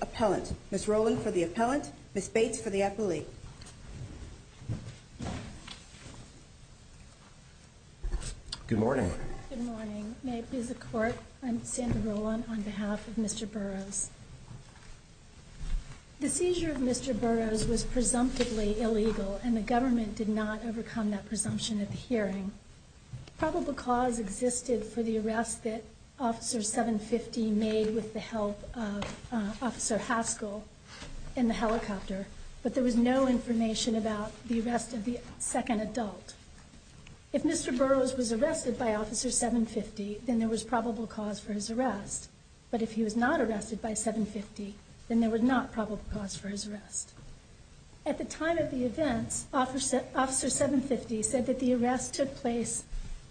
Appellant. Ms. Rowland for the Appellant. Ms. Bates for the Appellate. Good morning. Good morning. May it please the Court, I'm Sandra Rowland on behalf of Mr. Burroughs. The seizure of Mr. Burroughs was presumptively illegal and the government did not overcome that presumption at the hearing. Probable cause existed for the arrest that Officer 750 made with the help of Officer Haskell in the helicopter, but there was no information about the arrest of the second adult. If Mr. Burroughs was arrested by Officer 750, then there was probable cause for his arrest. But if he was not arrested by 750, then there was not probable cause for his arrest. At the time of the events, Officer 750 said that the arrest took place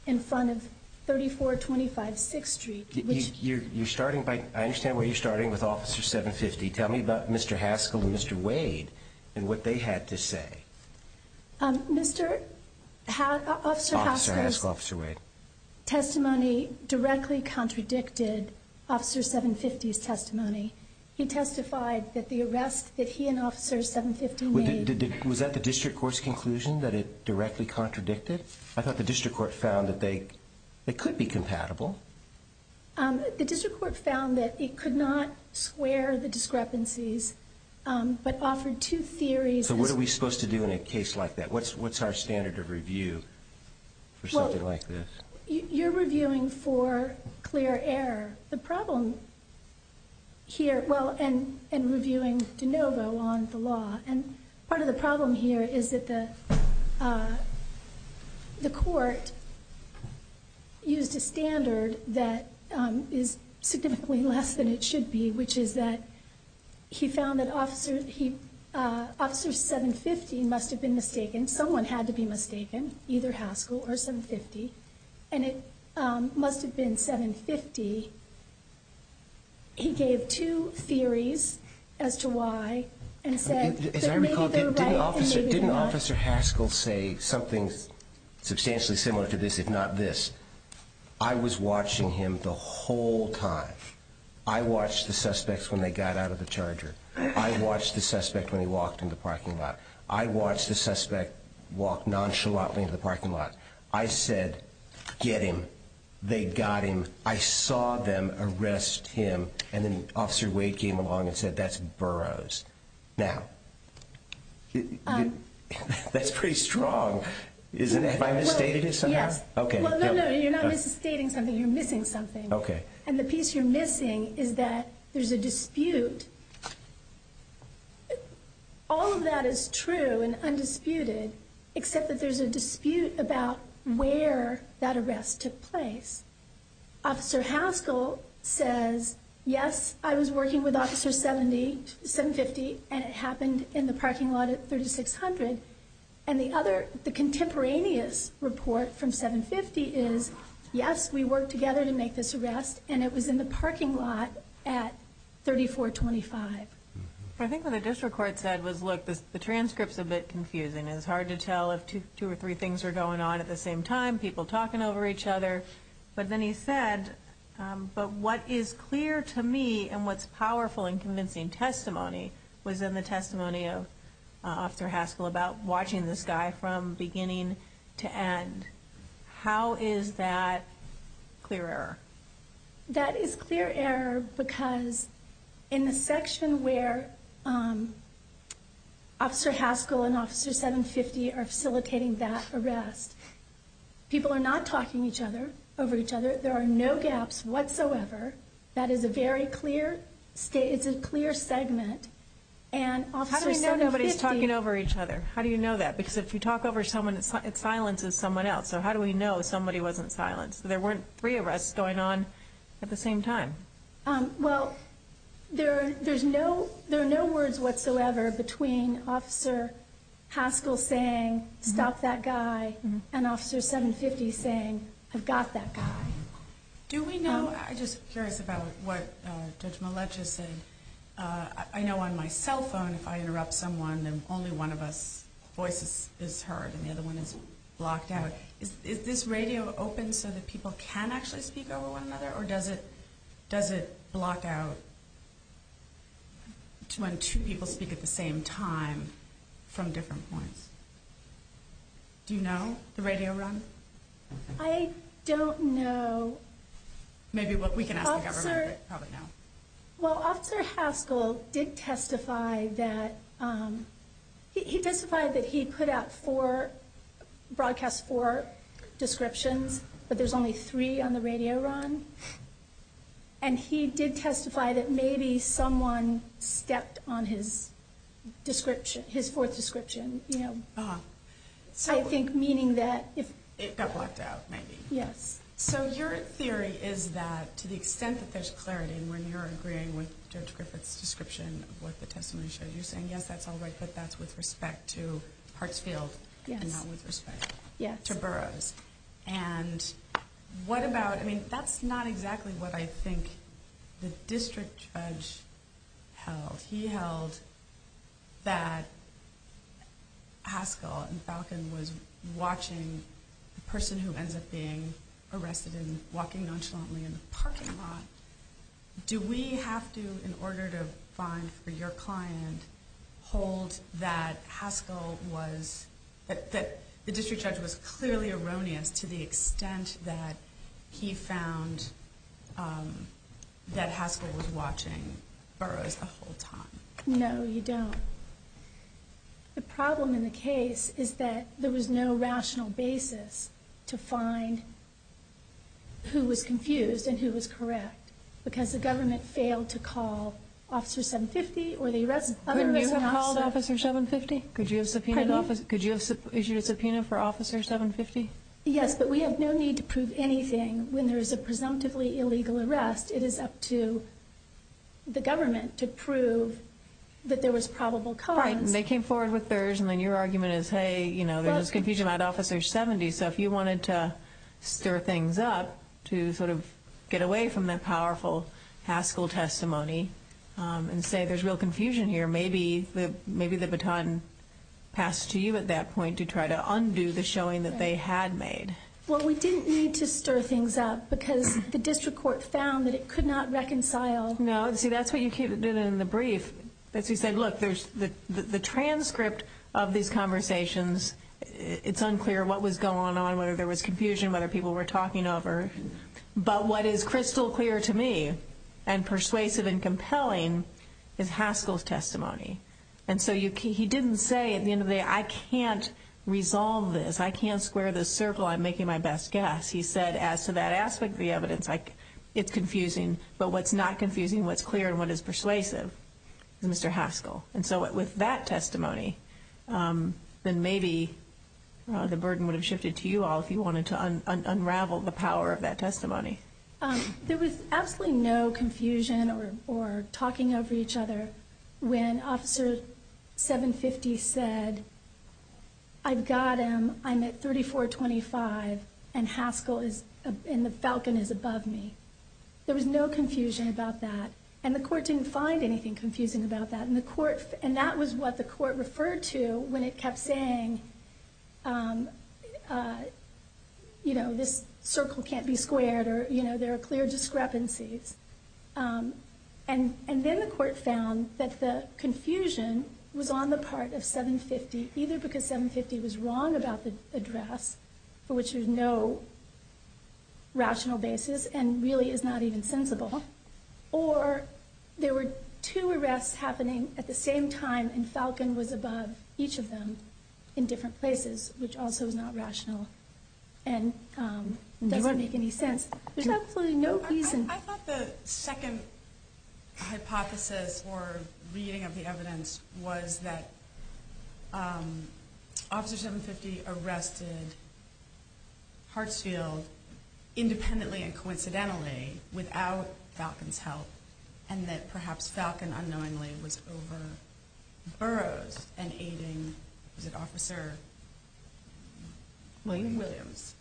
in front of 3425 6th Street. I understand where you're starting with Officer 750. Tell me about Mr. Haskell and Mr. Wade and what they had to say. Officer Haskell, Officer Wade. Mr. Haskell's testimony directly contradicted Officer 750's testimony. He testified that the arrest that he and Officer 750 made... Was that the District Court's conclusion that it directly contradicted? I thought the District Court found that they could be compatible. The District Court found that it could not square the discrepancies, but offered two theories... So what are we supposed to do in a case like that? What's our standard of review for something like this? You're reviewing for clear error. The court used a standard that is significantly less than it should be, which is that he found that Officer 750 must have been mistaken. Someone had to be mistaken, either Haskell or 750, and it must have been 750. He gave two theories as to why and said... As I recall, didn't Officer Haskell say something substantially similar to this, if not this? I was watching him the whole time. I watched the suspects when they got out of the Charger. I watched the suspect when he walked into the parking lot. I watched the suspect walk nonchalantly into the parking lot. I said, get him. They got him. I saw them arrest him, and then Officer Wade came along and said, that's Burroughs. Now, that's pretty strong, isn't it? Have I misstated it somehow? Yes. No, you're not misstating something, you're missing something. And the piece you're missing is that there's a dispute. All of that is true and undisputed, except that there's a dispute about where that arrest took place. Officer Haskell says, yes, I was working with Officer 750, and it happened in the parking lot at 3600. And the contemporaneous report from 750 is, yes, we worked together to make this arrest, and it was in the parking lot at 3425. I think what the district court said was, look, the transcript is a bit confusing. It's hard to tell if two or three things are going on at the same time, people talking over each other. But then he said, but what is clear to me and what's powerful in convincing testimony was in the testimony of Officer Haskell about watching this guy from beginning to end. How is that clear error? That is clear error because in the section where Officer Haskell and Officer 750 are facilitating that arrest, people are not talking over each other. There are no gaps whatsoever. That is a very clear statement. It's a clear segment. How do we know nobody's talking over each other? How do you know that? Because if you talk over someone, it silences someone else. So how do we know somebody wasn't silenced? There weren't three arrests going on at the same time. Well, there are no words whatsoever between Officer Haskell saying, stop that guy, and Officer 750 saying, I've got that guy. Do we know, I'm just curious about what Judge Malecza said. I know on my cell phone, if I interrupt someone, then only one of us voices is heard, and the other one is blocked out. Is this radio open so that people can actually speak over one another, or does it block out when two people speak at the same time from different points? Do you know the radio run? I don't know. Maybe we can ask the government, but probably not. Well, Officer Haskell did testify that, he testified that he put out four, broadcast four descriptions, but there's only three on the radio run. And he did testify that maybe someone stepped on his description, his fourth description. I think meaning that if... It got blocked out, maybe. Yes. So your theory is that to the extent that there's clarity, and when you're agreeing with Judge Griffith's description of what the testimony showed, you're saying, yes, that's all right, but that's with respect to Hartsfield, and not with respect to Burroughs. And what about, I mean, that's not exactly what I think the district judge held. He held that Haskell and Falcon was watching the person who ends up being arrested and walking nonchalantly in the parking lot. Do we have to, in order to find for your client, hold that Haskell was, that the district judge was clearly erroneous to the extent that he found that Haskell was watching Burroughs the whole time? No, you don't. The problem in the case is that there was no rational basis to find who was confused and who was correct, because the government failed to call Officer 750 or the other arresting officers. Could you have called Officer 750? Could you have issued a subpoena for Officer 750? Yes, but we have no need to prove anything when there is a presumptively illegal arrest. It is up to the government to prove that there was probable cause. Right, and they came forward with Burroughs, and then your argument is, hey, there was confusion about Officer 70, so if you wanted to stir things up to sort of get away from that powerful Haskell testimony and say there's real confusion here, maybe the baton passed to you at that point to try to undo the showing that they had made. Well, we didn't need to stir things up because the district court found that it could not reconcile. No, see, that's what you did in the brief. You said, look, the transcript of these conversations, it's unclear what was going on, whether there was confusion, whether people were talking over, but what is crystal clear to me and persuasive and compelling is Haskell's testimony. And so he didn't say at the end of the day, I can't resolve this. I can't square this circle. I'm making my best guess. He said, as to that aspect of the evidence, it's confusing, but what's not confusing, what's clear, and what is persuasive is Mr. Haskell. And so with that testimony, then maybe the burden would have shifted to you all if you wanted to unravel the power of that testimony. There was absolutely no confusion or talking over each other when Officer 750 said, I've got him, I'm at 3425, and Haskell is, and the Falcon is above me. There was no confusion about that. And the court didn't find anything confusing about that. And the court, and that was what the court referred to when it kept saying, you know, this circle can't be squared, or, you know, there are clear discrepancies. And, and then the court found that the confusion was on the part of 750, either because 750 was wrong about the address, for which there's no rational basis, and really is not even sensible, or there were two arrests happening at the same time, and Falcon was above each of them in different places, which also is not rational, and doesn't make any sense. There's absolutely no reason. I thought the second hypothesis for reading of the evidence was that Officer 750 arrested Hartsfield independently and coincidentally without Falcon's help, and that perhaps Falcon unknowingly was over Burroughs and aiding, was it Officer Williams?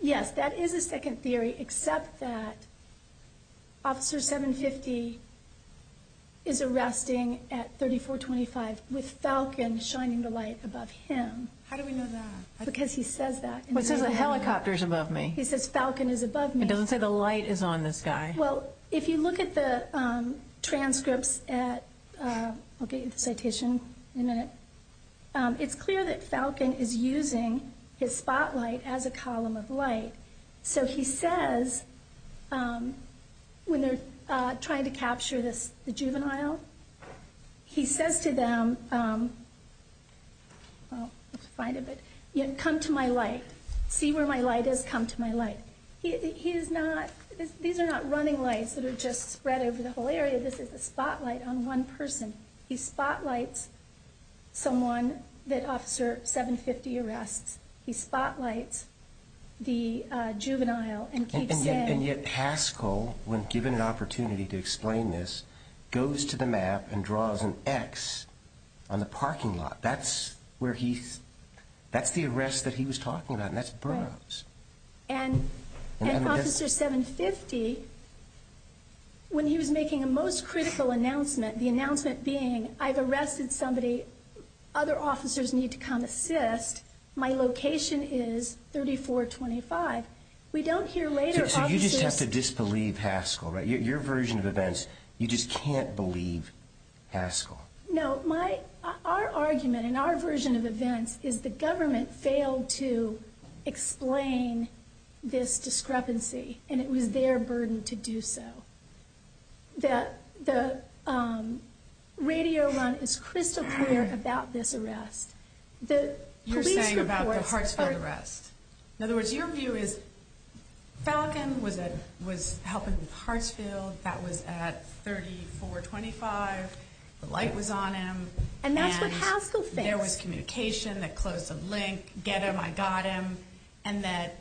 Yes, that is a second theory, except that Officer 750 is arresting at 3425 with Falcon shining the light above him. How do we know that? Because he says that. What says a helicopter is above me? He says Falcon is above me. It doesn't say the light is on this guy. Well, if you look at the transcripts at, I'll get you the citation in a minute, it's clear that Falcon is using his spotlight as a column of light. So he says, when they're trying to capture the juvenile, he says to them, come to my light, see where my light is, come to my light. These are not running lights that are just spread over the whole area, this is a spotlight on one person. He spotlights someone that Officer 750 arrests, he spotlights the juvenile and keeps saying... And yet Haskell, when given an opportunity to explain this, goes to the map and draws an X on the parking lot. That's where he, that's the arrest that he was talking about and that's Burroughs. And Officer 750, when he was making a most critical announcement, the announcement being I've arrested somebody, other officers need to come assist, my location is 3425. We don't hear later... So you just have to disbelieve Haskell, right? Your version of events, you just can't believe Haskell. No, my, our argument and our version of events is the government failed to explain this discrepancy and it was their burden to do so. The radio run is crystal clear about this arrest. You're saying about the Hartsfield arrest. In other words, your view is Falcon was helping with Hartsfield, that was at 3425, the light was on him... And that's what Haskell thinks. There was communication that closed the link, get him, I got him, and that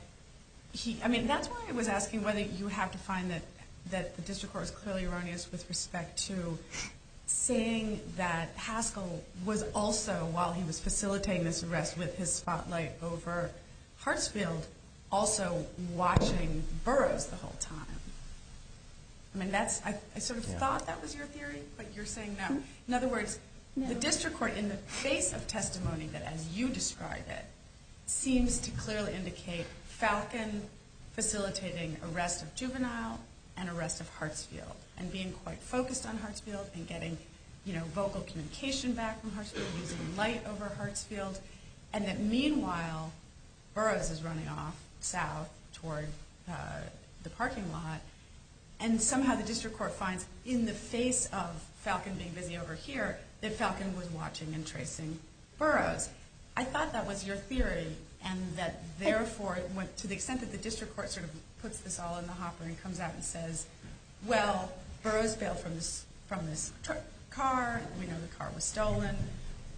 he, I mean, that's why I was asking whether you have to find that the district court is clearly erroneous with respect to saying that Haskell was also, while he was facilitating this arrest with his spotlight over Hartsfield, also watching Burroughs the whole time. I mean, that's, I sort of thought that was your theory, but you're saying no. In other words, the district court, in the face of testimony that, as you described it, seems to clearly indicate Falcon facilitating arrest of Juvenile and arrest of Hartsfield and being quite focused on Hartsfield and getting, you know, vocal communication back from Hartsfield, using light over Hartsfield, and that meanwhile Burroughs is running off south toward the parking lot and somehow the district court finds in the face of Falcon being busy over here that Falcon was watching and tracing Burroughs. I thought that was your theory and that therefore, to the extent that the district court sort of puts this all in the hopper and comes out and says, well, Burroughs bailed from this car, we know the car was stolen,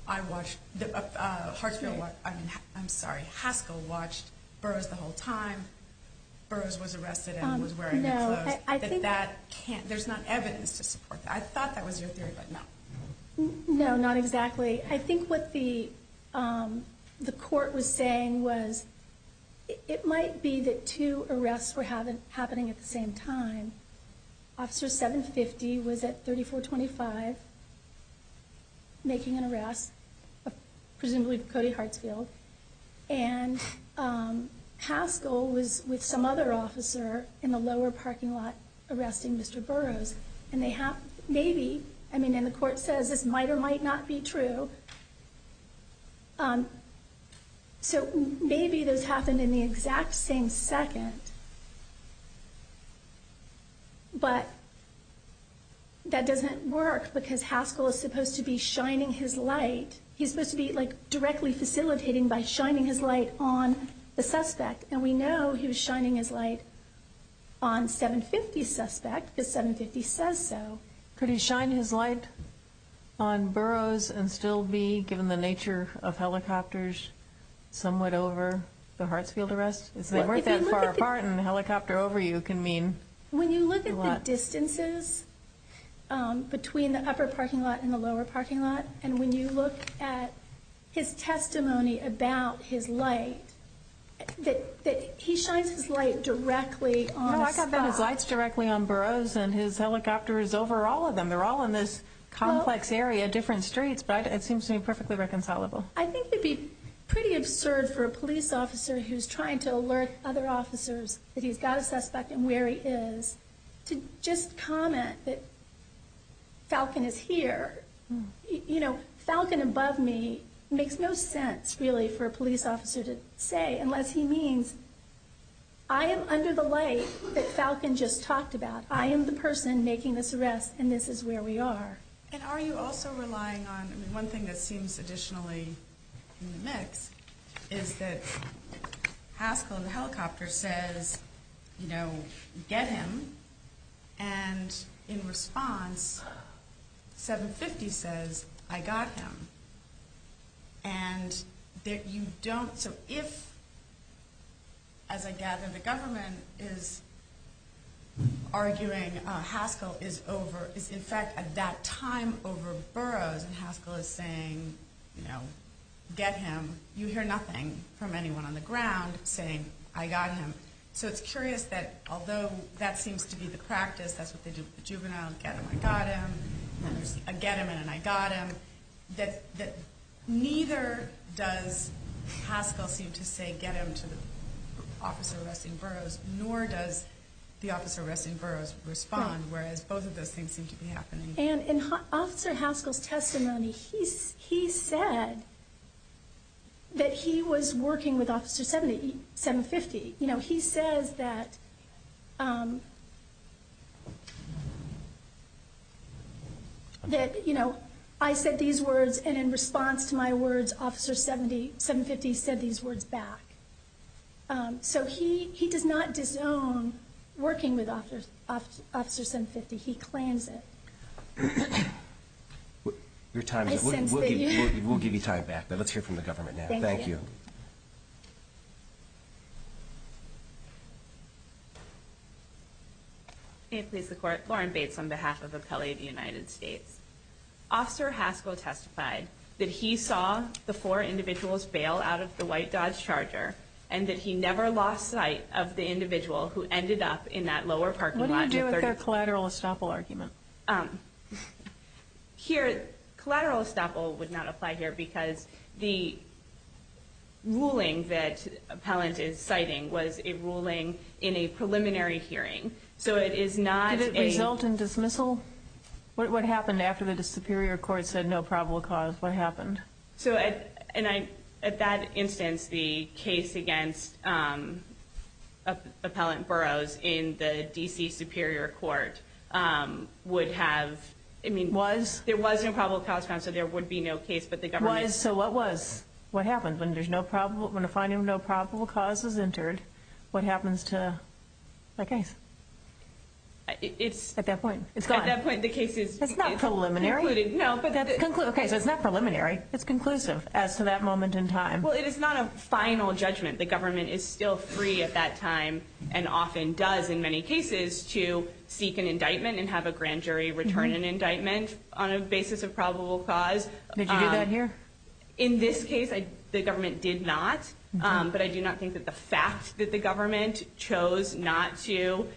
I watched, Hartsfield, I mean, I'm sorry, Haskell watched Burroughs the whole time, Burroughs was arrested and was wearing the clothes. No, I think... There's not evidence to support that. I thought that was your theory, but no. No, not exactly. I think what the court was saying was it might be that two arrests were happening at the same time. Officer 750 was at 3425 making an arrest, presumably Cody Hartsfield, and Haskell was with some other officer in the lower parking lot arresting Mr. Burroughs. And the court says this might or might not be true. So maybe those happened in the exact same second, but that doesn't work because Haskell is supposed to be shining his light. He's supposed to be directly facilitating by shining his light on the suspect. And we think the 750 says so. Could he shine his light on Burroughs and still be, given the nature of helicopters, somewhat over the Hartsfield arrest? They weren't that far apart and a helicopter over you can mean... When you look at the distances between the upper parking lot and the lower parking lot, and when you look at his testimony about his light, that he shines his light directly on Burroughs and his helicopter is over all of them. They're all in this complex area, different streets, but it seems to me perfectly reconcilable. I think it would be pretty absurd for a police officer who's trying to alert other officers that he's got a suspect and where he is to just comment that Falcon is here. Falcon above me makes no sense really for a police officer to say unless he means I am under the light that Falcon just talked about. I am the person making this arrest and this is where we are. And are you also relying on... One thing that seems additionally in the mix is that Haskell in the helicopter says, you know, get him. And in response, 750 says, I got him. And arguing Haskell is in fact at that time over Burroughs and Haskell is saying, you know, get him. You hear nothing from anyone on the ground saying, I got him. So it's curious that although that seems to be the practice, that's what they do with the juvenile, get him, I got him. Then there's a get him and an I got him. Neither does Haskell seem to say get him to the officer arresting Burroughs, nor does the officer arresting Burroughs respond, whereas both of those things seem to be happening. And in Officer Haskell's testimony, he said that he was working with Officer 750. You know, he says that, that, you know, I said these words and in response to my words, Officer 750 said these words back. So he, he does not disown working with Officer 750. He claims it. We'll give you time back, but let's hear from the government now. Thank you. May it please the court, Lauren Bates on behalf of Appellate United States. Officer Haskell testified that he saw the four individuals bail out of the white Dodge Charger and that he never lost sight of the individual who ended up in that lower parking lot. What do you do with their collateral estoppel argument? Here collateral estoppel would not apply here because the ruling that appellant is citing was a ruling in a preliminary hearing. So it is not... Did it result in dismissal? What happened after the Superior Court said no probable cause? What happened? So, and I, at that instance, the case against appellant Burroughs in the DC Superior Court would have, I mean, there was no probable cause found, so there would be no case, but the government... Was, so what was, what happened when there's no probable, when a finding of no probable cause is entered, what happens to the case? It's... At that point, it's gone. At that point, the case is... That's not preliminary. No, but... Okay, so it's not preliminary. It's conclusive as to that moment in time. Well, it is not a final judgment. The government is still free at that time and often does in many cases to seek an indictment and have a grand jury return an indictment on a basis of probable cause. Did you do that here? In this case, the government did not, but I do not think that the fact that the government chose not to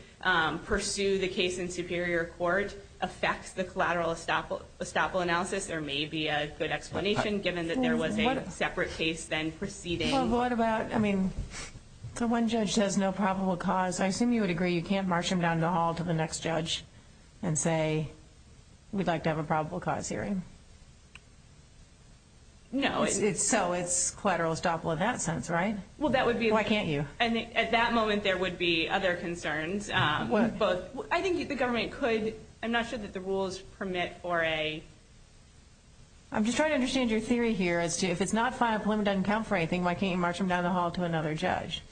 pursue the case in Superior Court affects the collateral estoppel analysis. There may be a good explanation given that there was a separate case then proceeding. Well, but what about, I mean, the one judge says no probable cause. I assume you would agree you can't march him down the hall to the next judge and say, we'd like to have a probable cause hearing. No, it's... So it's collateral estoppel in that sense, right? Well, that would be... Why can't you? And at that moment, there would be other concerns. What? I think the government could... I'm not sure that the rules permit for a... I'm just trying to understand your theory here as to if it's not final, preliminary, doesn't count for anything, why can't you march him down the hall to another judge?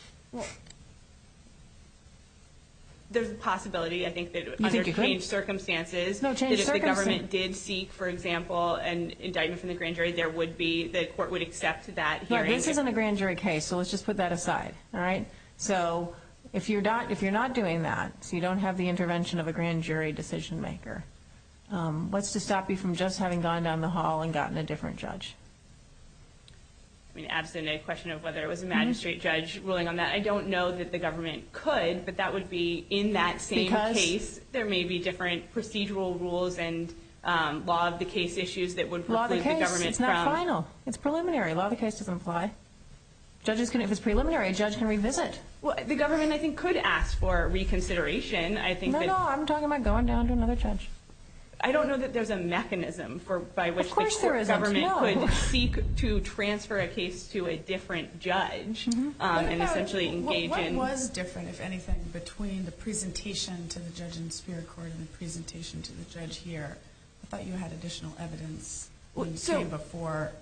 There's a possibility, I think, that under changed circumstances... No, changed circumstances. ...that if the government did seek, for example, an indictment from the grand jury, there would be... the court would accept that hearing. This isn't a grand jury case, so let's just put that aside, all right? So, if you're not doing that, so you don't have the intervention of a grand jury decision maker, what's to stop you from just having gone down the hall and gotten a different judge? I mean, absolutely no question of whether it was a magistrate judge ruling on that. I don't know that the government could, but that would be in that same case. Because? There may be different procedural rules and law of the case issues that would preclude the government from... No. It's preliminary. Law of the case doesn't apply. Judges can... if it's preliminary, a judge can revisit. Well, the government, I think, could ask for reconsideration. I think that... No, no, I'm talking about going down to another judge. I don't know that there's a mechanism for... by which... Of course there is. ...the court government could seek to transfer a case to a different judge and essentially engage in... What about... what was different, if anything, between the presentation to the judge in Spear Court and the presentation to the judge here? I thought you had additional evidence... Well, so... ...when you came before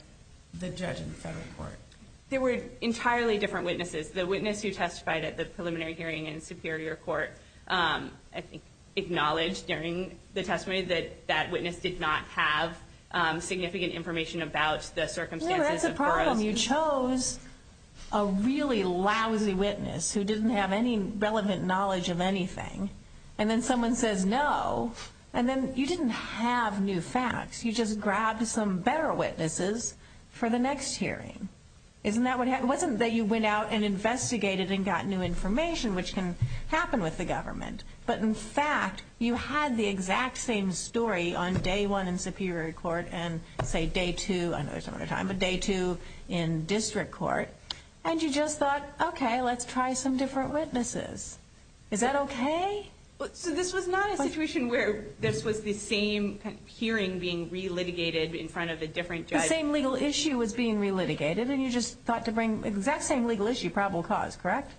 the judge in the federal court. There were entirely different witnesses. The witness who testified at the preliminary hearing in Superior Court, I think, acknowledged during the testimony that that witness did not have significant information about the circumstances of Burroughs... No, that's the problem. You chose a really lousy witness who didn't have any relevant knowledge of anything. And then someone says no. And then you didn't have new facts. You just grabbed some better witnesses for the next hearing. Isn't that what happened? It wasn't that you went out and investigated and got new information, which can happen with the government. But, in fact, you had the exact same story on day one in Superior Court and, say, day two... I know there's not a lot of time, but day two in District Court. And you just thought, okay, let's try some different witnesses. Is that okay? So this was not a situation where this was the same hearing being re-litigated in front of a different judge? The same legal issue was being re-litigated, and you just thought to bring the exact same legal issue, probable cause, correct?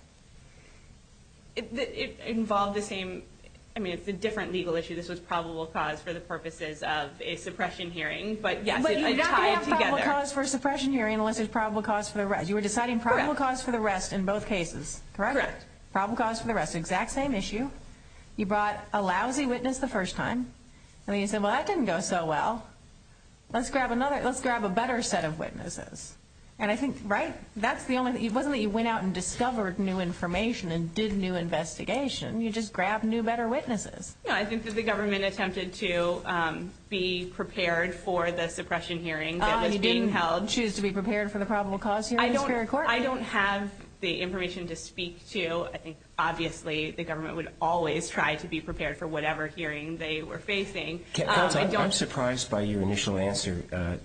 It involved the same... I mean, it's a different legal issue. This was probable cause for the purposes of a suppression hearing. But, yes, it tied together. But you're not going to have probable cause for a suppression hearing unless it's probable cause for the rest. You were deciding probable cause for the rest in both cases, correct? Correct. Probable cause for the rest. Exact same issue. You brought a lousy witness the first time, and then you said, well, that didn't go so well. Let's grab another... Let's grab a better set of witnesses. And I think... Right? That's the only... It wasn't that you went out and discovered new information and did new investigation. You just grabbed new, better witnesses. No, I think that the government attempted to be prepared for the suppression hearing that was being held. You didn't choose to be prepared for the probable cause hearing in Superior Court? I don't have the information to speak to. I think, obviously, the government would always try to be prepared for whatever hearing they were facing. I don't... I'm surprised by your initial answer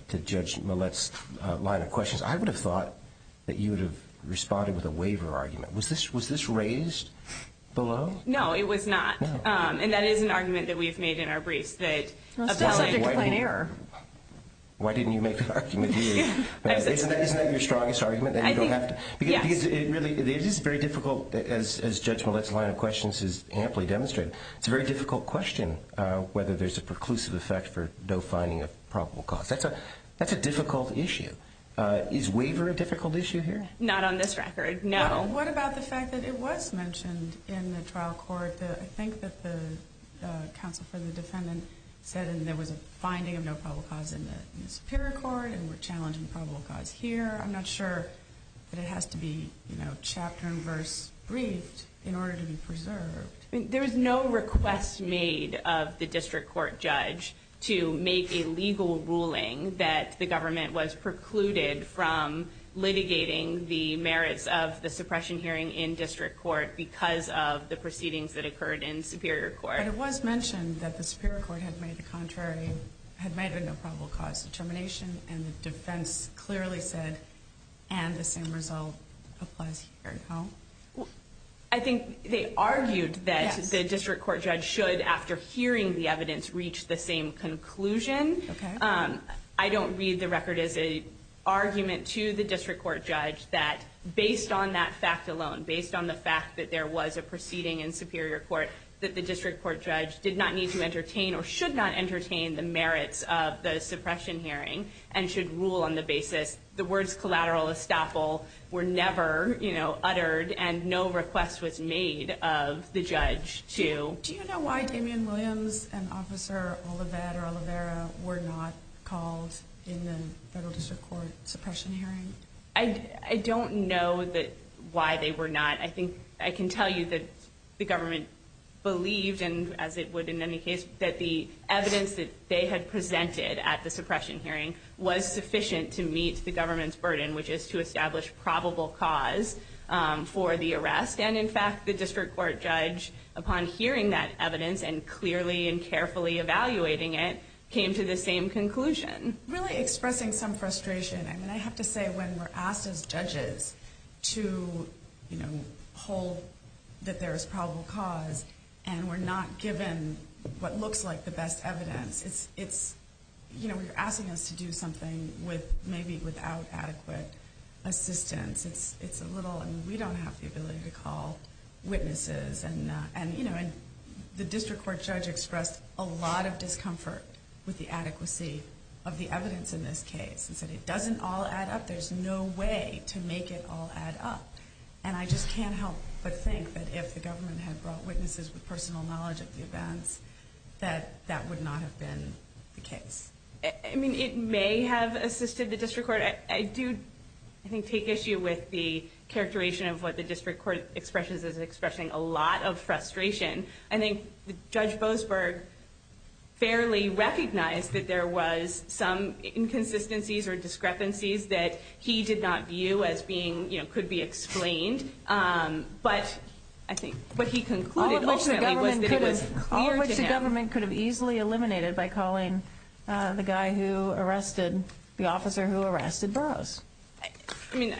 to Judge Millett's line of questions. I would have thought that you would have responded with a waiver argument. Was this raised below? No, it was not. No. And that is an argument that we have made in our briefs that... Well, it's still subject to plain error. Why didn't you make the argument? Isn't that your strongest argument? I think... Yes. Because it really... It is very difficult, as Judge Millett's line of questions has amply demonstrated. It's a very difficult question whether there's a preclusive effect for no finding of probable cause. That's a difficult issue. Is waiver a difficult issue here? Not on this record, no. What about the fact that it was mentioned in the trial court that I think that the counsel for the defendant said there was a finding of no probable cause in the Superior Court and we're challenging probable cause here? I'm not sure that it has to be, you know, chapter and verse briefed in order to be preserved. I mean, there was no request made of the District Court judge to make a legal ruling that the government was precluded from litigating the merits of the suppression hearing in District Court because of the proceedings that occurred in Superior Court. But it was mentioned that the Superior Court had made a contrary... And the defense clearly said, and the same result applies here, no? I think they argued that the District Court judge should, after hearing the evidence, reach the same conclusion. Okay. I don't read the record as an argument to the District Court judge that, based on that fact alone, based on the fact that there was a proceeding in Superior Court, that the District Court judge did not need to entertain or should not entertain the merits of the suppression hearing and should rule on the basis. The words collateral estoppel were never, you know, uttered and no request was made of the judge to... Do you know why Damian Williams and Officer Olivet or Oliveira were not called in the Federal District Court suppression hearing? I don't know why they were not. I think I can tell you that the government believed, and as it would in any case, that the evidence that they had presented at the suppression hearing was sufficient to meet the government's burden, which is to establish probable cause for the arrest. And, in fact, the District Court judge, upon hearing that evidence and clearly and carefully evaluating it, came to the same conclusion. Really expressing some frustration. I mean, I have to say, when we're asked as judges to, you know, hold that there is probable cause and we're not given what looks like the best evidence, it's, you know, you're asking us to do something with maybe without adequate assistance. It's a little... I mean, we don't have the ability to call witnesses and, you know, and the District Court judge expressed a lot of discomfort with the adequacy of the evidence in this case. He said, it doesn't all add up. There's no way to make it all add up. And I just can't help but think that if the government had brought witnesses with personal knowledge of the events, that that would not have been the case. I mean, it may have assisted the District Court. I do, I think, take issue with the characterization of what the District Court expresses as expressing a lot of frustration. I think Judge Boasberg fairly recognized that there was some inconsistencies or discrepancies that he did not view as being, you know, could be explained. But I think what he concluded ultimately was that it was clear to him... All of which the government could have easily eliminated by calling the guy who arrested, the officer who arrested Burroughs. I mean,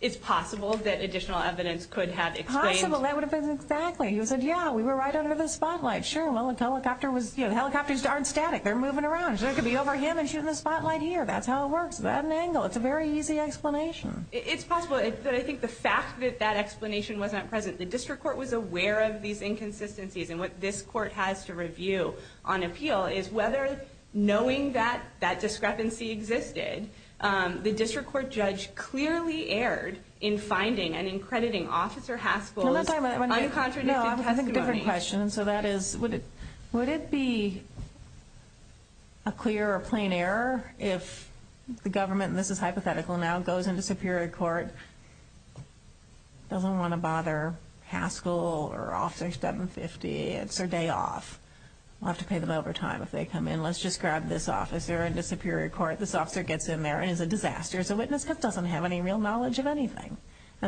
it's possible that additional evidence could have explained... Possible, that would have been exactly. He said, yeah, we were right under the spotlight. Sure, well, the helicopter was, you know, the helicopters aren't static. They're moving around. So it could be over him and shooting the spotlight here. That's how it works. That angle. It's a very easy explanation. It's possible, but I think the fact that that explanation wasn't present, the District Court was aware of these inconsistencies. And what this court has to review on appeal is whether knowing that that discrepancy existed, the District Court judge clearly erred in finding and in crediting Officer Haskell's uncontradicted testimony. So that is, would it be a clear or plain error if the government, and this is hypothetical now, goes into Superior Court, doesn't want to bother Haskell or Officer 750. It's their day off. We'll have to pay them overtime if they come in. Let's just grab this officer into Superior Court. This officer gets in there and is a disaster as a witness because he doesn't have any real knowledge of anything.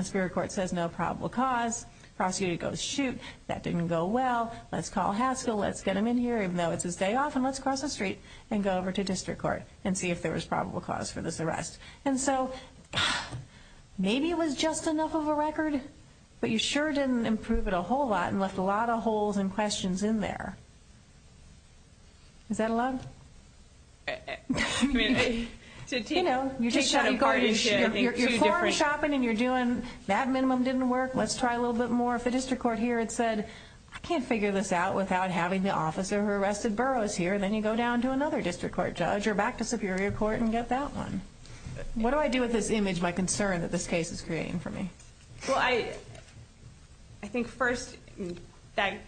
Superior Court says no probable cause. Prosecutor goes, shoot, that didn't go well. Let's call Haskell. Let's get him in here, even though it's his day off, and let's cross the street and go over to District Court and see if there was probable cause for this arrest. And so maybe it was just enough of a record, but you sure didn't improve it a whole lot and left a lot of holes and questions in there. Is that allowed? You know, you're farm shopping and you're doing that minimum didn't work. Let's try a little bit more. If the District Court here had said, I can't figure this out without having the officer who arrested Burroughs here, then you go down to another District Court judge or back to Superior Court and get that one. What do I do with this image, my concern that this case is creating for me? Well, I think first that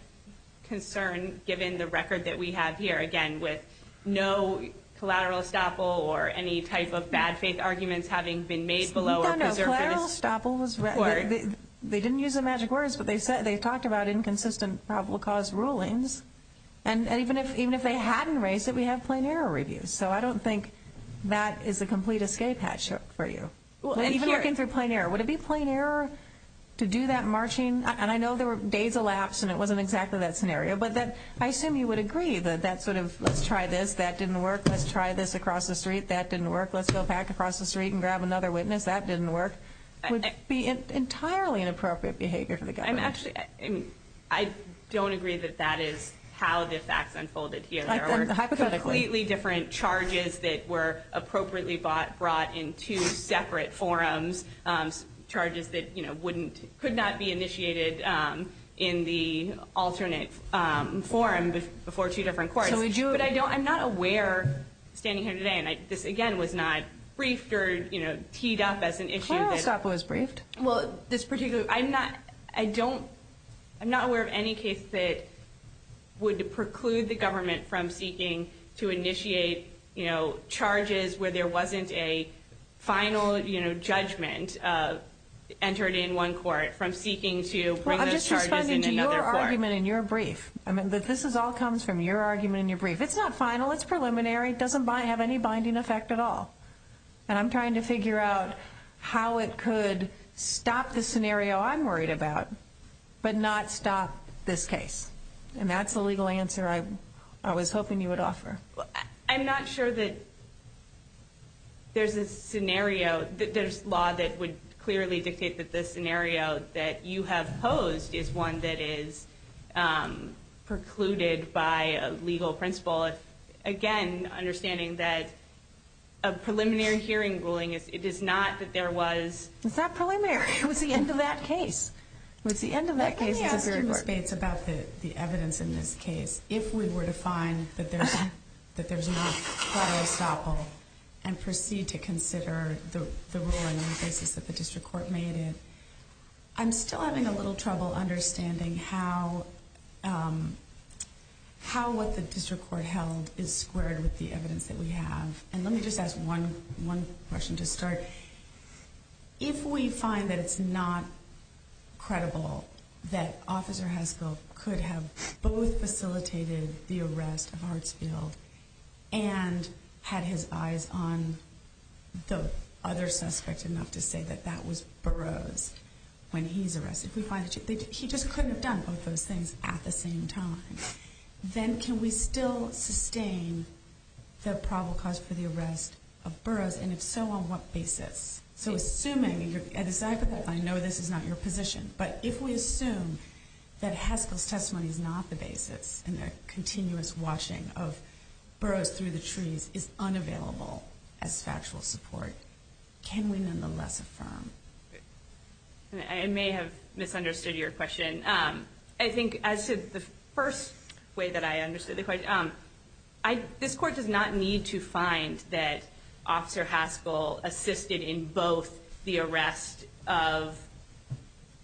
concern, given the record that we have here, again, with no collateral estoppel or any type of bad faith arguments having been made below or preserved for this court. No, no, collateral estoppel, they didn't use the magic words, but they talked about inconsistent probable cause rulings. And even if they hadn't raised it, we have plain error reviews. So I don't think that is a complete escape hatch for you. Even looking through plain error, would it be plain error to do that marching? And I know there were days elapsed and it wasn't exactly that scenario, but I assume you would agree that that sort of let's try this, that didn't work, let's try this across the street, that didn't work, let's go back across the street and grab another witness, that didn't work, would be entirely inappropriate behavior for the government. I don't agree that that is how the facts unfolded here. There were completely different charges that were appropriately brought in two separate forums, charges that could not be initiated in the alternate forum before two different courts. But I'm not aware, standing here today, and this again was not briefed or teed up as an issue. Collateral estoppel was briefed. Well, I'm not aware of any case that would preclude the government from seeking to initiate charges where there wasn't a final judgment entered in one court from seeking to bring those charges in another court. I'm just responding to your argument in your brief. This all comes from your argument in your brief. It's not final, it's preliminary, it doesn't have any binding effect at all. And I'm trying to figure out how it could stop the scenario I'm worried about, but not stop this case. And that's the legal answer I was hoping you would offer. I'm not sure that there's a scenario, there's law that would clearly dictate that the scenario that you have posed is one that is precluded by a legal principle. Again, understanding that a preliminary hearing ruling, it is not that there was... It's not preliminary, it was the end of that case. Let me ask you, Ms. Bates, about the evidence in this case. If we were to find that there's not collateral estoppel and proceed to consider the ruling on the basis that the district court made it, I'm still having a little trouble understanding how what the district court held is squared with the evidence that we have. And let me just ask one question to start. If we find that it's not credible that Officer Heskel could have both facilitated the arrest of Hartsfield and had his eyes on the other suspect enough to say that that was Burroughs when he's arrested, if we find that he just couldn't have done both those things at the same time, then can we still sustain the probable cause for the arrest of Burroughs? And if so, on what basis? So assuming, and I know this is not your position, but if we assume that Heskel's testimony is not the basis and the continuous watching of Burroughs through the trees is unavailable as factual support, can we nonetheless affirm? I may have misunderstood your question. I think as to the first way that I understood the question, this Court does not need to find that Officer Heskel assisted in both the arrest of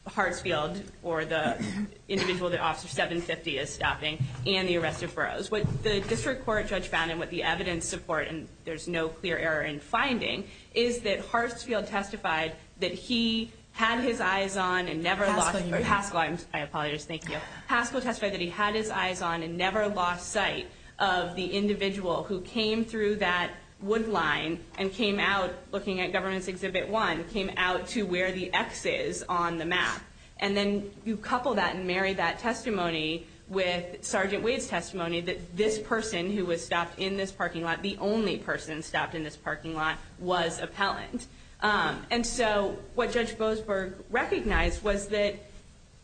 Hartsfield or the individual that Officer 750 is stopping and the arrest of Burroughs. What the district court judge found and what the evidence support, and there's no clear error in finding, is that Hartsfield testified that he had his eyes on and never lost sight. Heskel, I apologize. Thank you. But Heskel testified that he had his eyes on and never lost sight of the individual who came through that wood line and came out looking at Government's Exhibit 1, came out to where the X is on the map. And then you couple that and marry that testimony with Sergeant Wade's testimony that this person who was stopped in this parking lot, the only person stopped in this parking lot, was appellant. And so what Judge Boasberg recognized was that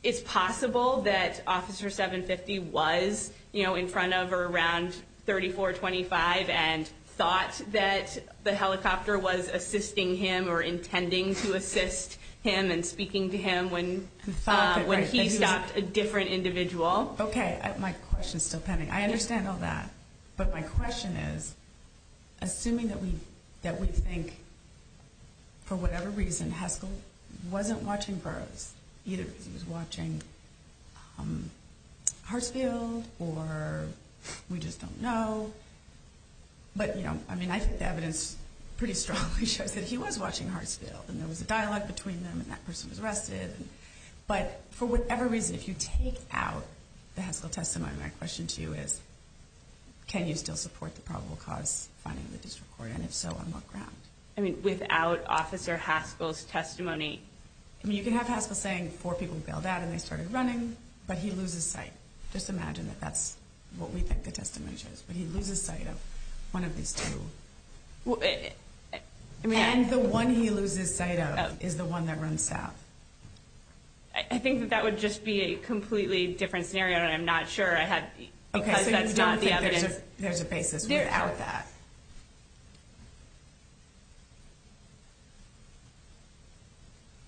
it's possible that Officer 750 was in front of or around 3425 and thought that the helicopter was assisting him or intending to assist him and speaking to him when he stopped a different individual. Okay. My question is still pending. I understand all that. But my question is, assuming that we think for whatever reason Heskel wasn't watching Burroughs, either because he was watching Hartsfield or we just don't know. But, you know, I think the evidence pretty strongly shows that he was watching Hartsfield and there was a dialogue between them and that person was arrested. But for whatever reason, if you take out the Heskel testimony, then my question to you is, can you still support the probable cause finding in the district court? And if so, on what ground? I mean, without Officer Heskel's testimony? You can have Heskel saying four people bailed out and they started running, but he loses sight. Just imagine that that's what we think the testimony shows. But he loses sight of one of these two. And the one he loses sight of is the one that runs south. I think that that would just be a completely different scenario, and I'm not sure. Because that's not the evidence. Okay. So you don't think there's a basis without that?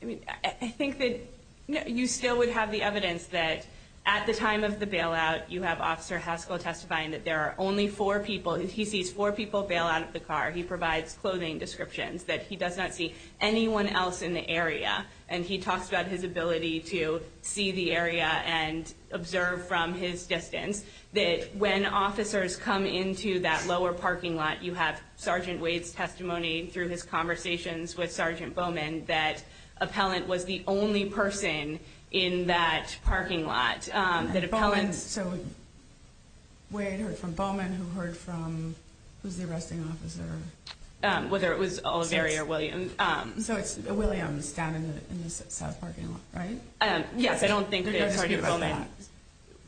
I mean, I think that you still would have the evidence that at the time of the bailout, you have Officer Heskel testifying that there are only four people. He sees four people bail out of the car. He provides clothing descriptions that he does not see anyone else in the area. And he talks about his ability to see the area and observe from his distance. That when officers come into that lower parking lot, you have Sergeant Wade's testimony through his conversations with Sergeant Bowman that appellant was the only person in that parking lot. Bowman, so Wade heard from Bowman, who heard from, who's the arresting officer? Whether it was Oliveri or Williams. So it's Williams down in the south parking lot, right? Yes, I don't think that it's Sergeant Bowman.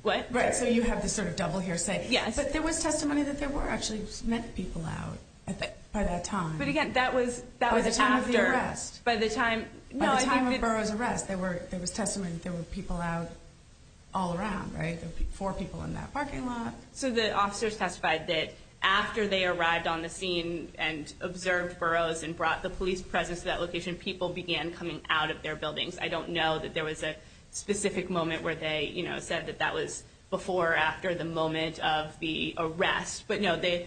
What? Right, so you have this sort of double hearsay. But there was testimony that there were actually people out by that time. But again, that was after. By the time of the arrest. By the time of Burroughs' arrest, there was testimony that there were people out all around, right? There were four people in that parking lot. So the officers testified that after they arrived on the scene and observed Burroughs and brought the police presence to that location, people began coming out of their buildings. I don't know that there was a specific moment where they said that that was before or after the moment of the arrest. But the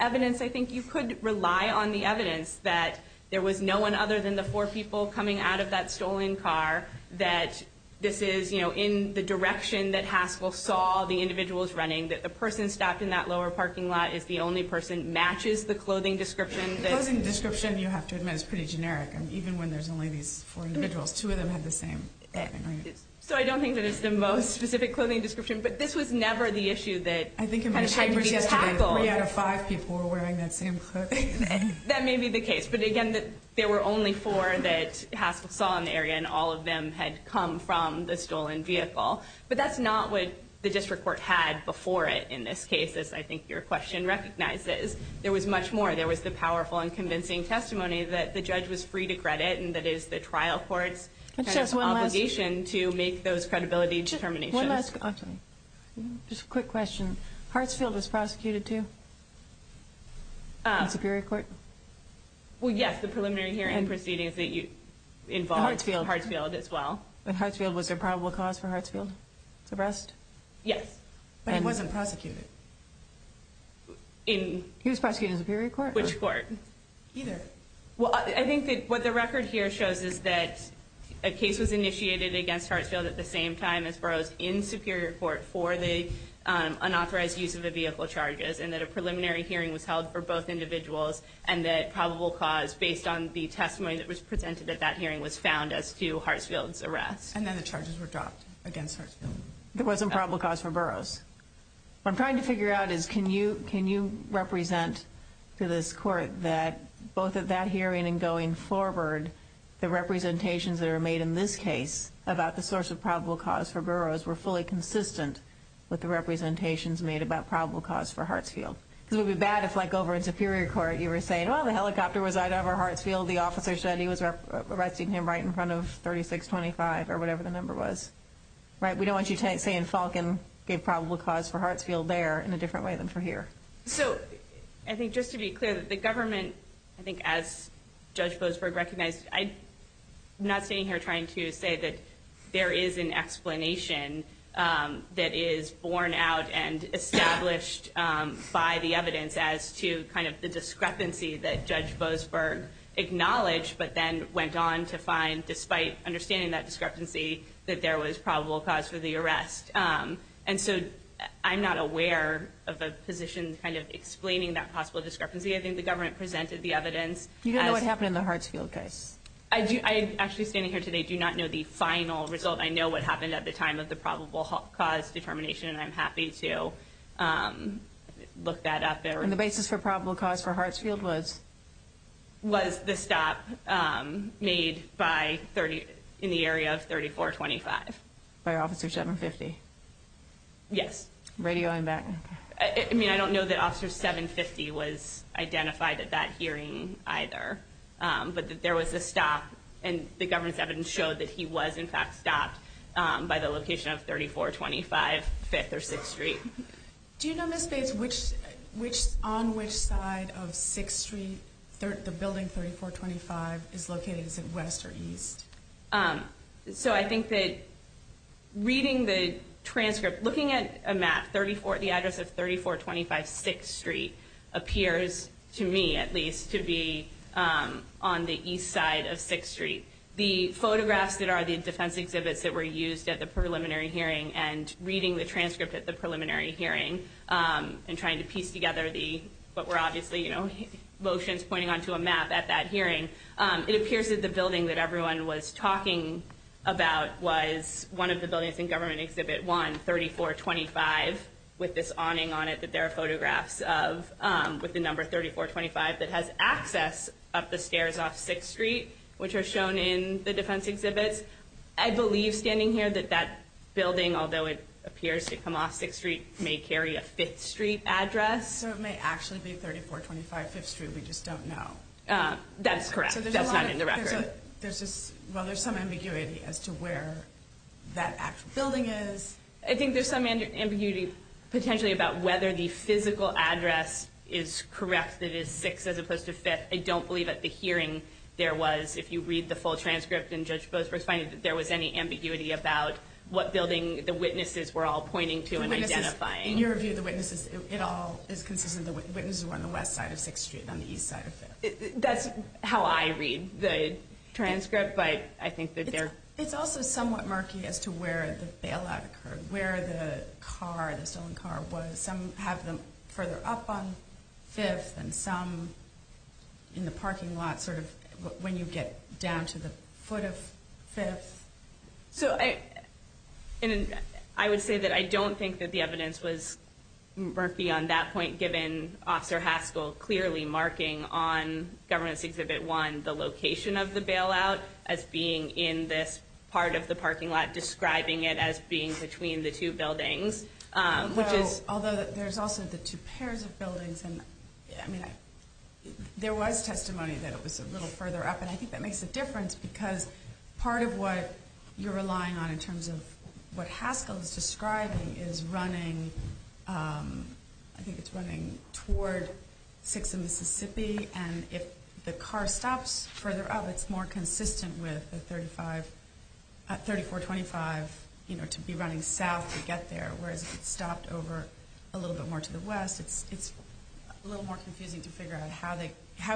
evidence, I think you could rely on the evidence that there was no one other than the four people coming out of that stolen car, that this is in the direction that Haskell saw the individuals running, that the person stopped in that lower parking lot is the only person, matches the clothing description. The clothing description, you have to admit, is pretty generic. Even when there's only these four individuals, two of them have the same clothing. So I don't think that it's the most specific clothing description. But this was never the issue that had to be tackled. I think in my chambers yesterday, three out of five people were wearing that same clothing. That may be the case. But again, there were only four that Haskell saw in the area, and all of them had come from the stolen vehicle. But that's not what the district court had before it in this case, as I think your question recognizes. There was much more. There was the powerful and convincing testimony that the judge was free to credit, and that is the trial court's obligation to make those credibility determinations. One last question. Just a quick question. Hartsfield was prosecuted too? In Superior Court? Well, yes. The preliminary hearing proceedings involved Hartsfield as well. But Hartsfield, was there probable cause for Hartsfield's arrest? Yes. But he wasn't prosecuted. He was prosecuted in Superior Court? Which court? Either. Well, I think that what the record here shows is that a case was initiated against Hartsfield at the same time as Burroughs in Superior Court for the unauthorized use of the vehicle charges, and that a preliminary hearing was held for both individuals, and that probable cause based on the testimony that was presented at that hearing was found as to Hartsfield's arrest. And then the charges were dropped against Hartsfield. There wasn't probable cause for Burroughs. What I'm trying to figure out is can you represent to this court that both at that hearing and going forward, the representations that are made in this case about the source of probable cause for Burroughs were fully consistent with the representations made about probable cause for Hartsfield? Because it would be bad if, like, over in Superior Court, you were saying, well, the helicopter was out over Hartsfield, the officer said he was arresting him right in front of 3625, or whatever the number was, right? We don't want you saying Falcon gave probable cause for Hartsfield there in a different way than for here. So I think just to be clear, the government, I think as Judge Boasberg recognized, I'm not standing here trying to say that there is an explanation that is borne out and established by the evidence as to kind of the discrepancy that Judge Boasberg acknowledged but then went on to find, despite understanding that discrepancy, that there was probable cause for the arrest. And so I'm not aware of a position kind of explaining that possible discrepancy. I think the government presented the evidence. You don't know what happened in the Hartsfield case? I actually standing here today do not know the final result. I know what happened at the time of the probable cause determination, and I'm happy to look that up. And the basis for probable cause for Hartsfield was? Was the stop made in the area of 3425. By Officer 750? Yes. Radioing back. I mean, I don't know that Officer 750 was identified at that hearing either, but there was a stop, and the government's evidence showed that he was, in fact, stopped by the location of 3425 Fifth or Sixth Street. Do you know, Ms. Bates, on which side of Sixth Street the building 3425 is located? Is it west or east? So I think that reading the transcript, looking at a map, the address of 3425 Sixth Street appears, to me at least, to be on the east side of Sixth Street. The photographs that are the defense exhibits that were used at the preliminary hearing and reading the transcript at the preliminary hearing and trying to piece together what were obviously motions pointing onto a map at that hearing, it appears that the building that everyone was talking about was one of the buildings in Government Exhibit 1, 3425, with this awning on it that there are photographs of with the number 3425 that has access up the stairs off Sixth Street, which are shown in the defense exhibits. I believe, standing here, that that building, although it appears to come off Sixth Street, may carry a Fifth Street address. So it may actually be 3425 Fifth Street. We just don't know. That's correct. That's not in the record. Well, there's some ambiguity as to where that actual building is. I think there's some ambiguity, potentially, about whether the physical address is correct, that it is Sixth as opposed to Fifth. I don't believe at the hearing there was, if you read the full transcript and Judge Boothbrook's finding, that there was any ambiguity about what building the witnesses were all pointing to and identifying. In your view, the witnesses, it all is consistent. The witnesses were on the west side of Sixth Street and on the east side of Fifth. That's how I read the transcript, but I think that they're... It's also somewhat murky as to where the bailout occurred, where the car, the stolen car was. Some have them further up on Fifth and some in the parking lot when you get down to the foot of Fifth. I would say that I don't think that the evidence was murky on that point, given Officer Haskell clearly marking on Governance Exhibit 1 the location of the bailout as being in this part of the parking lot, describing it as being between the two buildings. Although there's also the two pairs of buildings. There was testimony that it was a little further up, and I think that makes a difference because part of what you're relying on in terms of what Haskell is describing is running, I think it's running toward Sixth and Mississippi, and if the car stops further up, it's more consistent with the 3425 to be running south to get there, whereas if it stopped over a little bit more to the west, it's a little more confusing to figure out how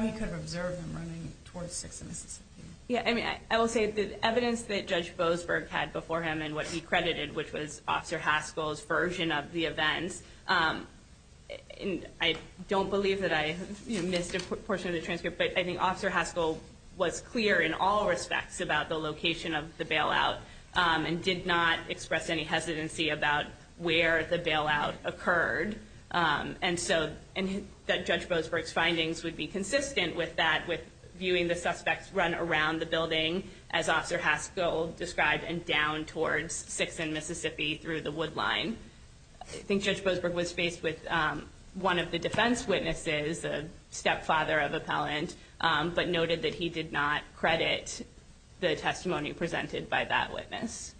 he could have observed them running towards Sixth and Mississippi. I will say that the evidence that Judge Boasberg had before him and what he credited, which was Officer Haskell's version of the events, and I don't believe that I missed a portion of the transcript, but I think Officer Haskell was clear in all respects about the location of the bailout and did not express any hesitancy about where the bailout occurred, and so that Judge Boasberg's findings would be consistent with that, with viewing the suspects run around the building as Officer Haskell described and down towards Sixth and Mississippi through the wood line. I think Judge Boasberg was faced with one of the defense witnesses, the stepfather of Appellant, but noted that he did not credit the testimony presented by that witness.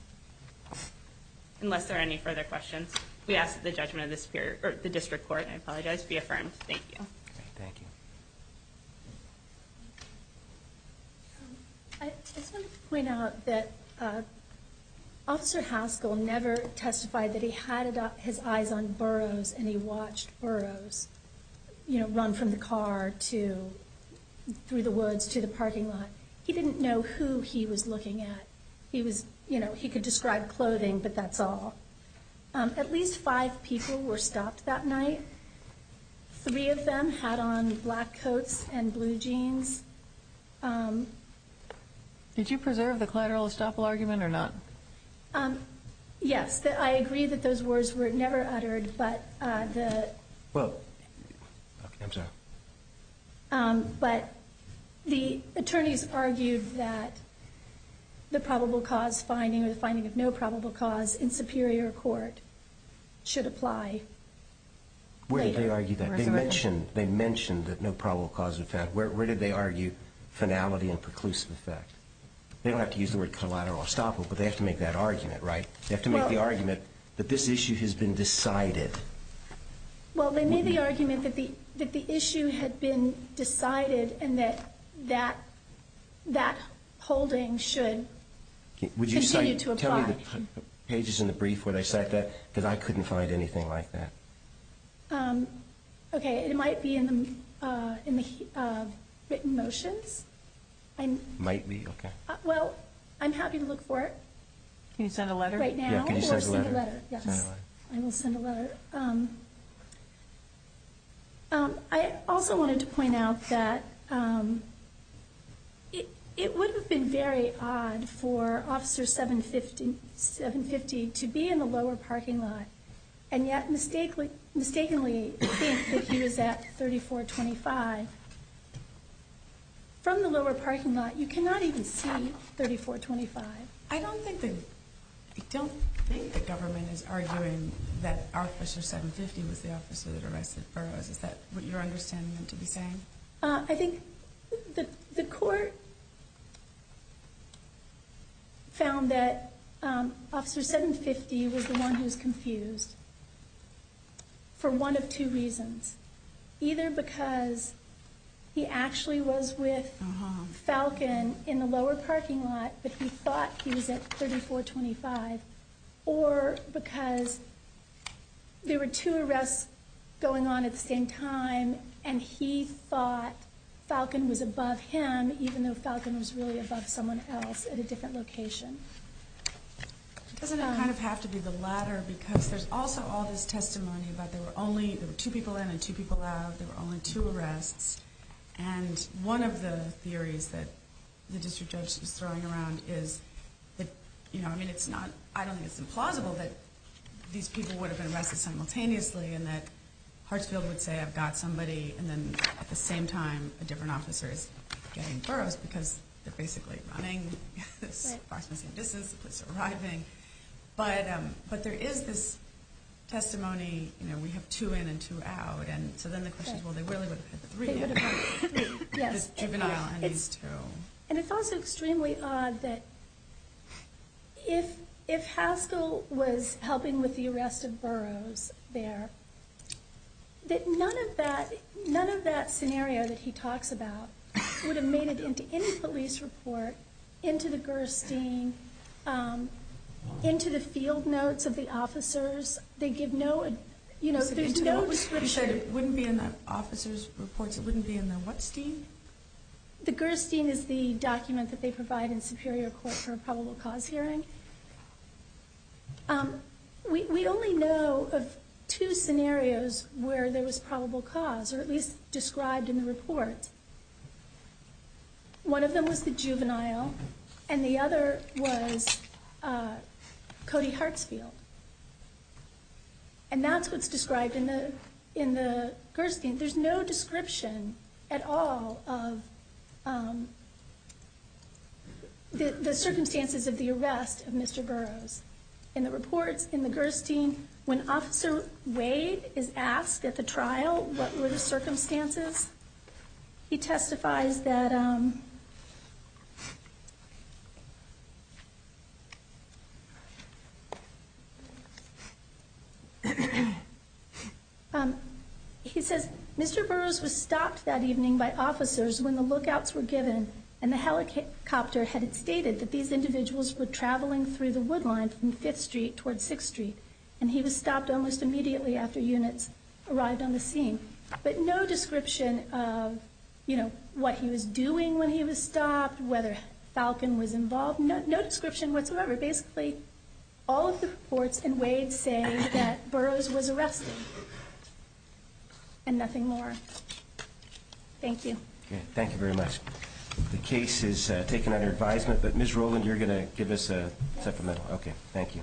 Unless there are any further questions, we ask that the judgment of the district court be affirmed. Thank you. Thank you. I just wanted to point out that Officer Haskell never testified that he had his eyes on Burroughs and he watched Burroughs run from the car through the woods to the parking lot. He didn't know who he was looking at. He could describe clothing, but that's all. At least five people were stopped that night. Three of them had on black coats and blue jeans. Did you preserve the collateral estoppel argument or not? Yes. I agree that those words were never uttered, but the attorneys argued that the probable cause finding or the finding of no probable cause in superior court should apply later. Where did they argue that? They mentioned that no probable cause was found. Where did they argue finality and preclusive effect? They don't have to use the word collateral estoppel, but they have to make that argument, right? They have to make the argument that this issue has been decided. Well, they made the argument that the issue had been decided and that that holding should continue to apply. Tell me the pages in the brief where they cite that, because I couldn't find anything like that. Okay, it might be in the written motions. Might be? Okay. Well, I'm happy to look for it. Can you send a letter? Right now? Yeah, can you send a letter? Yes. I will send a letter. I also wanted to point out that it would have been very odd for Officer 750 to be in the lower parking lot and yet mistakenly think that he was at 3425. From the lower parking lot, you cannot even see 3425. I don't think the government is arguing that Officer 750 was the officer that arrested Burroughs. Is that what you're understanding them to be saying? I think the court found that Officer 750 was the one who's confused for one of two reasons. Either because he actually was with Falcon in the lower parking lot, but he thought he was at 3425, or because there were two arrests going on at the same time and he thought Falcon was above him, even though Falcon was really above someone else at a different location. Doesn't it kind of have to be the latter? Because there's also all this testimony about there were two people in and two people out, there were only two arrests. And one of the theories that the district judge was throwing around is that, I don't think it's implausible that these people would have been arrested simultaneously and that Hartsfield would say, I've got somebody, and then at the same time a different officer is getting Burroughs, because they're basically running approximately the same distance, the police are arriving. But there is this testimony, we have two in and two out, and so then the question is, well, they really would have had the three, this juvenile and these two. And it's also extremely odd that if Haskell was helping with the arrest of Burroughs there, that none of that scenario that he talks about would have made it into any police report, into the Gerstein, into the field notes of the officers. They give no, you know, there's no description. You said it wouldn't be in the officers' reports, it wouldn't be in the whatstein? The Gerstein is the document that they provide in Superior Court for a probable cause hearing. We only know of two scenarios where there was probable cause, or at least described in the report. One of them was the juvenile, and the other was Cody Hartsfield. And that's what's described in the Gerstein. There's no description at all of the circumstances of the arrest of Mr. Burroughs. In the reports in the Gerstein, when Officer Wade is asked at the trial what were the circumstances, he testifies that, he says, Mr. Burroughs was stopped that evening by officers when the lookouts were given and the helicopter had stated that these individuals were traveling through the wood line from 5th Street toward 6th Street. And he was stopped almost immediately after units arrived on the scene. But no description of, you know, what he was doing when he was stopped, whether Falcon was involved, no description whatsoever. Basically, all of the reports in Wade say that Burroughs was arrested. And nothing more. Thank you. Okay, thank you very much. The case is taken under advisement, but Ms. Rowland, you're going to give us a supplemental? Okay, thank you.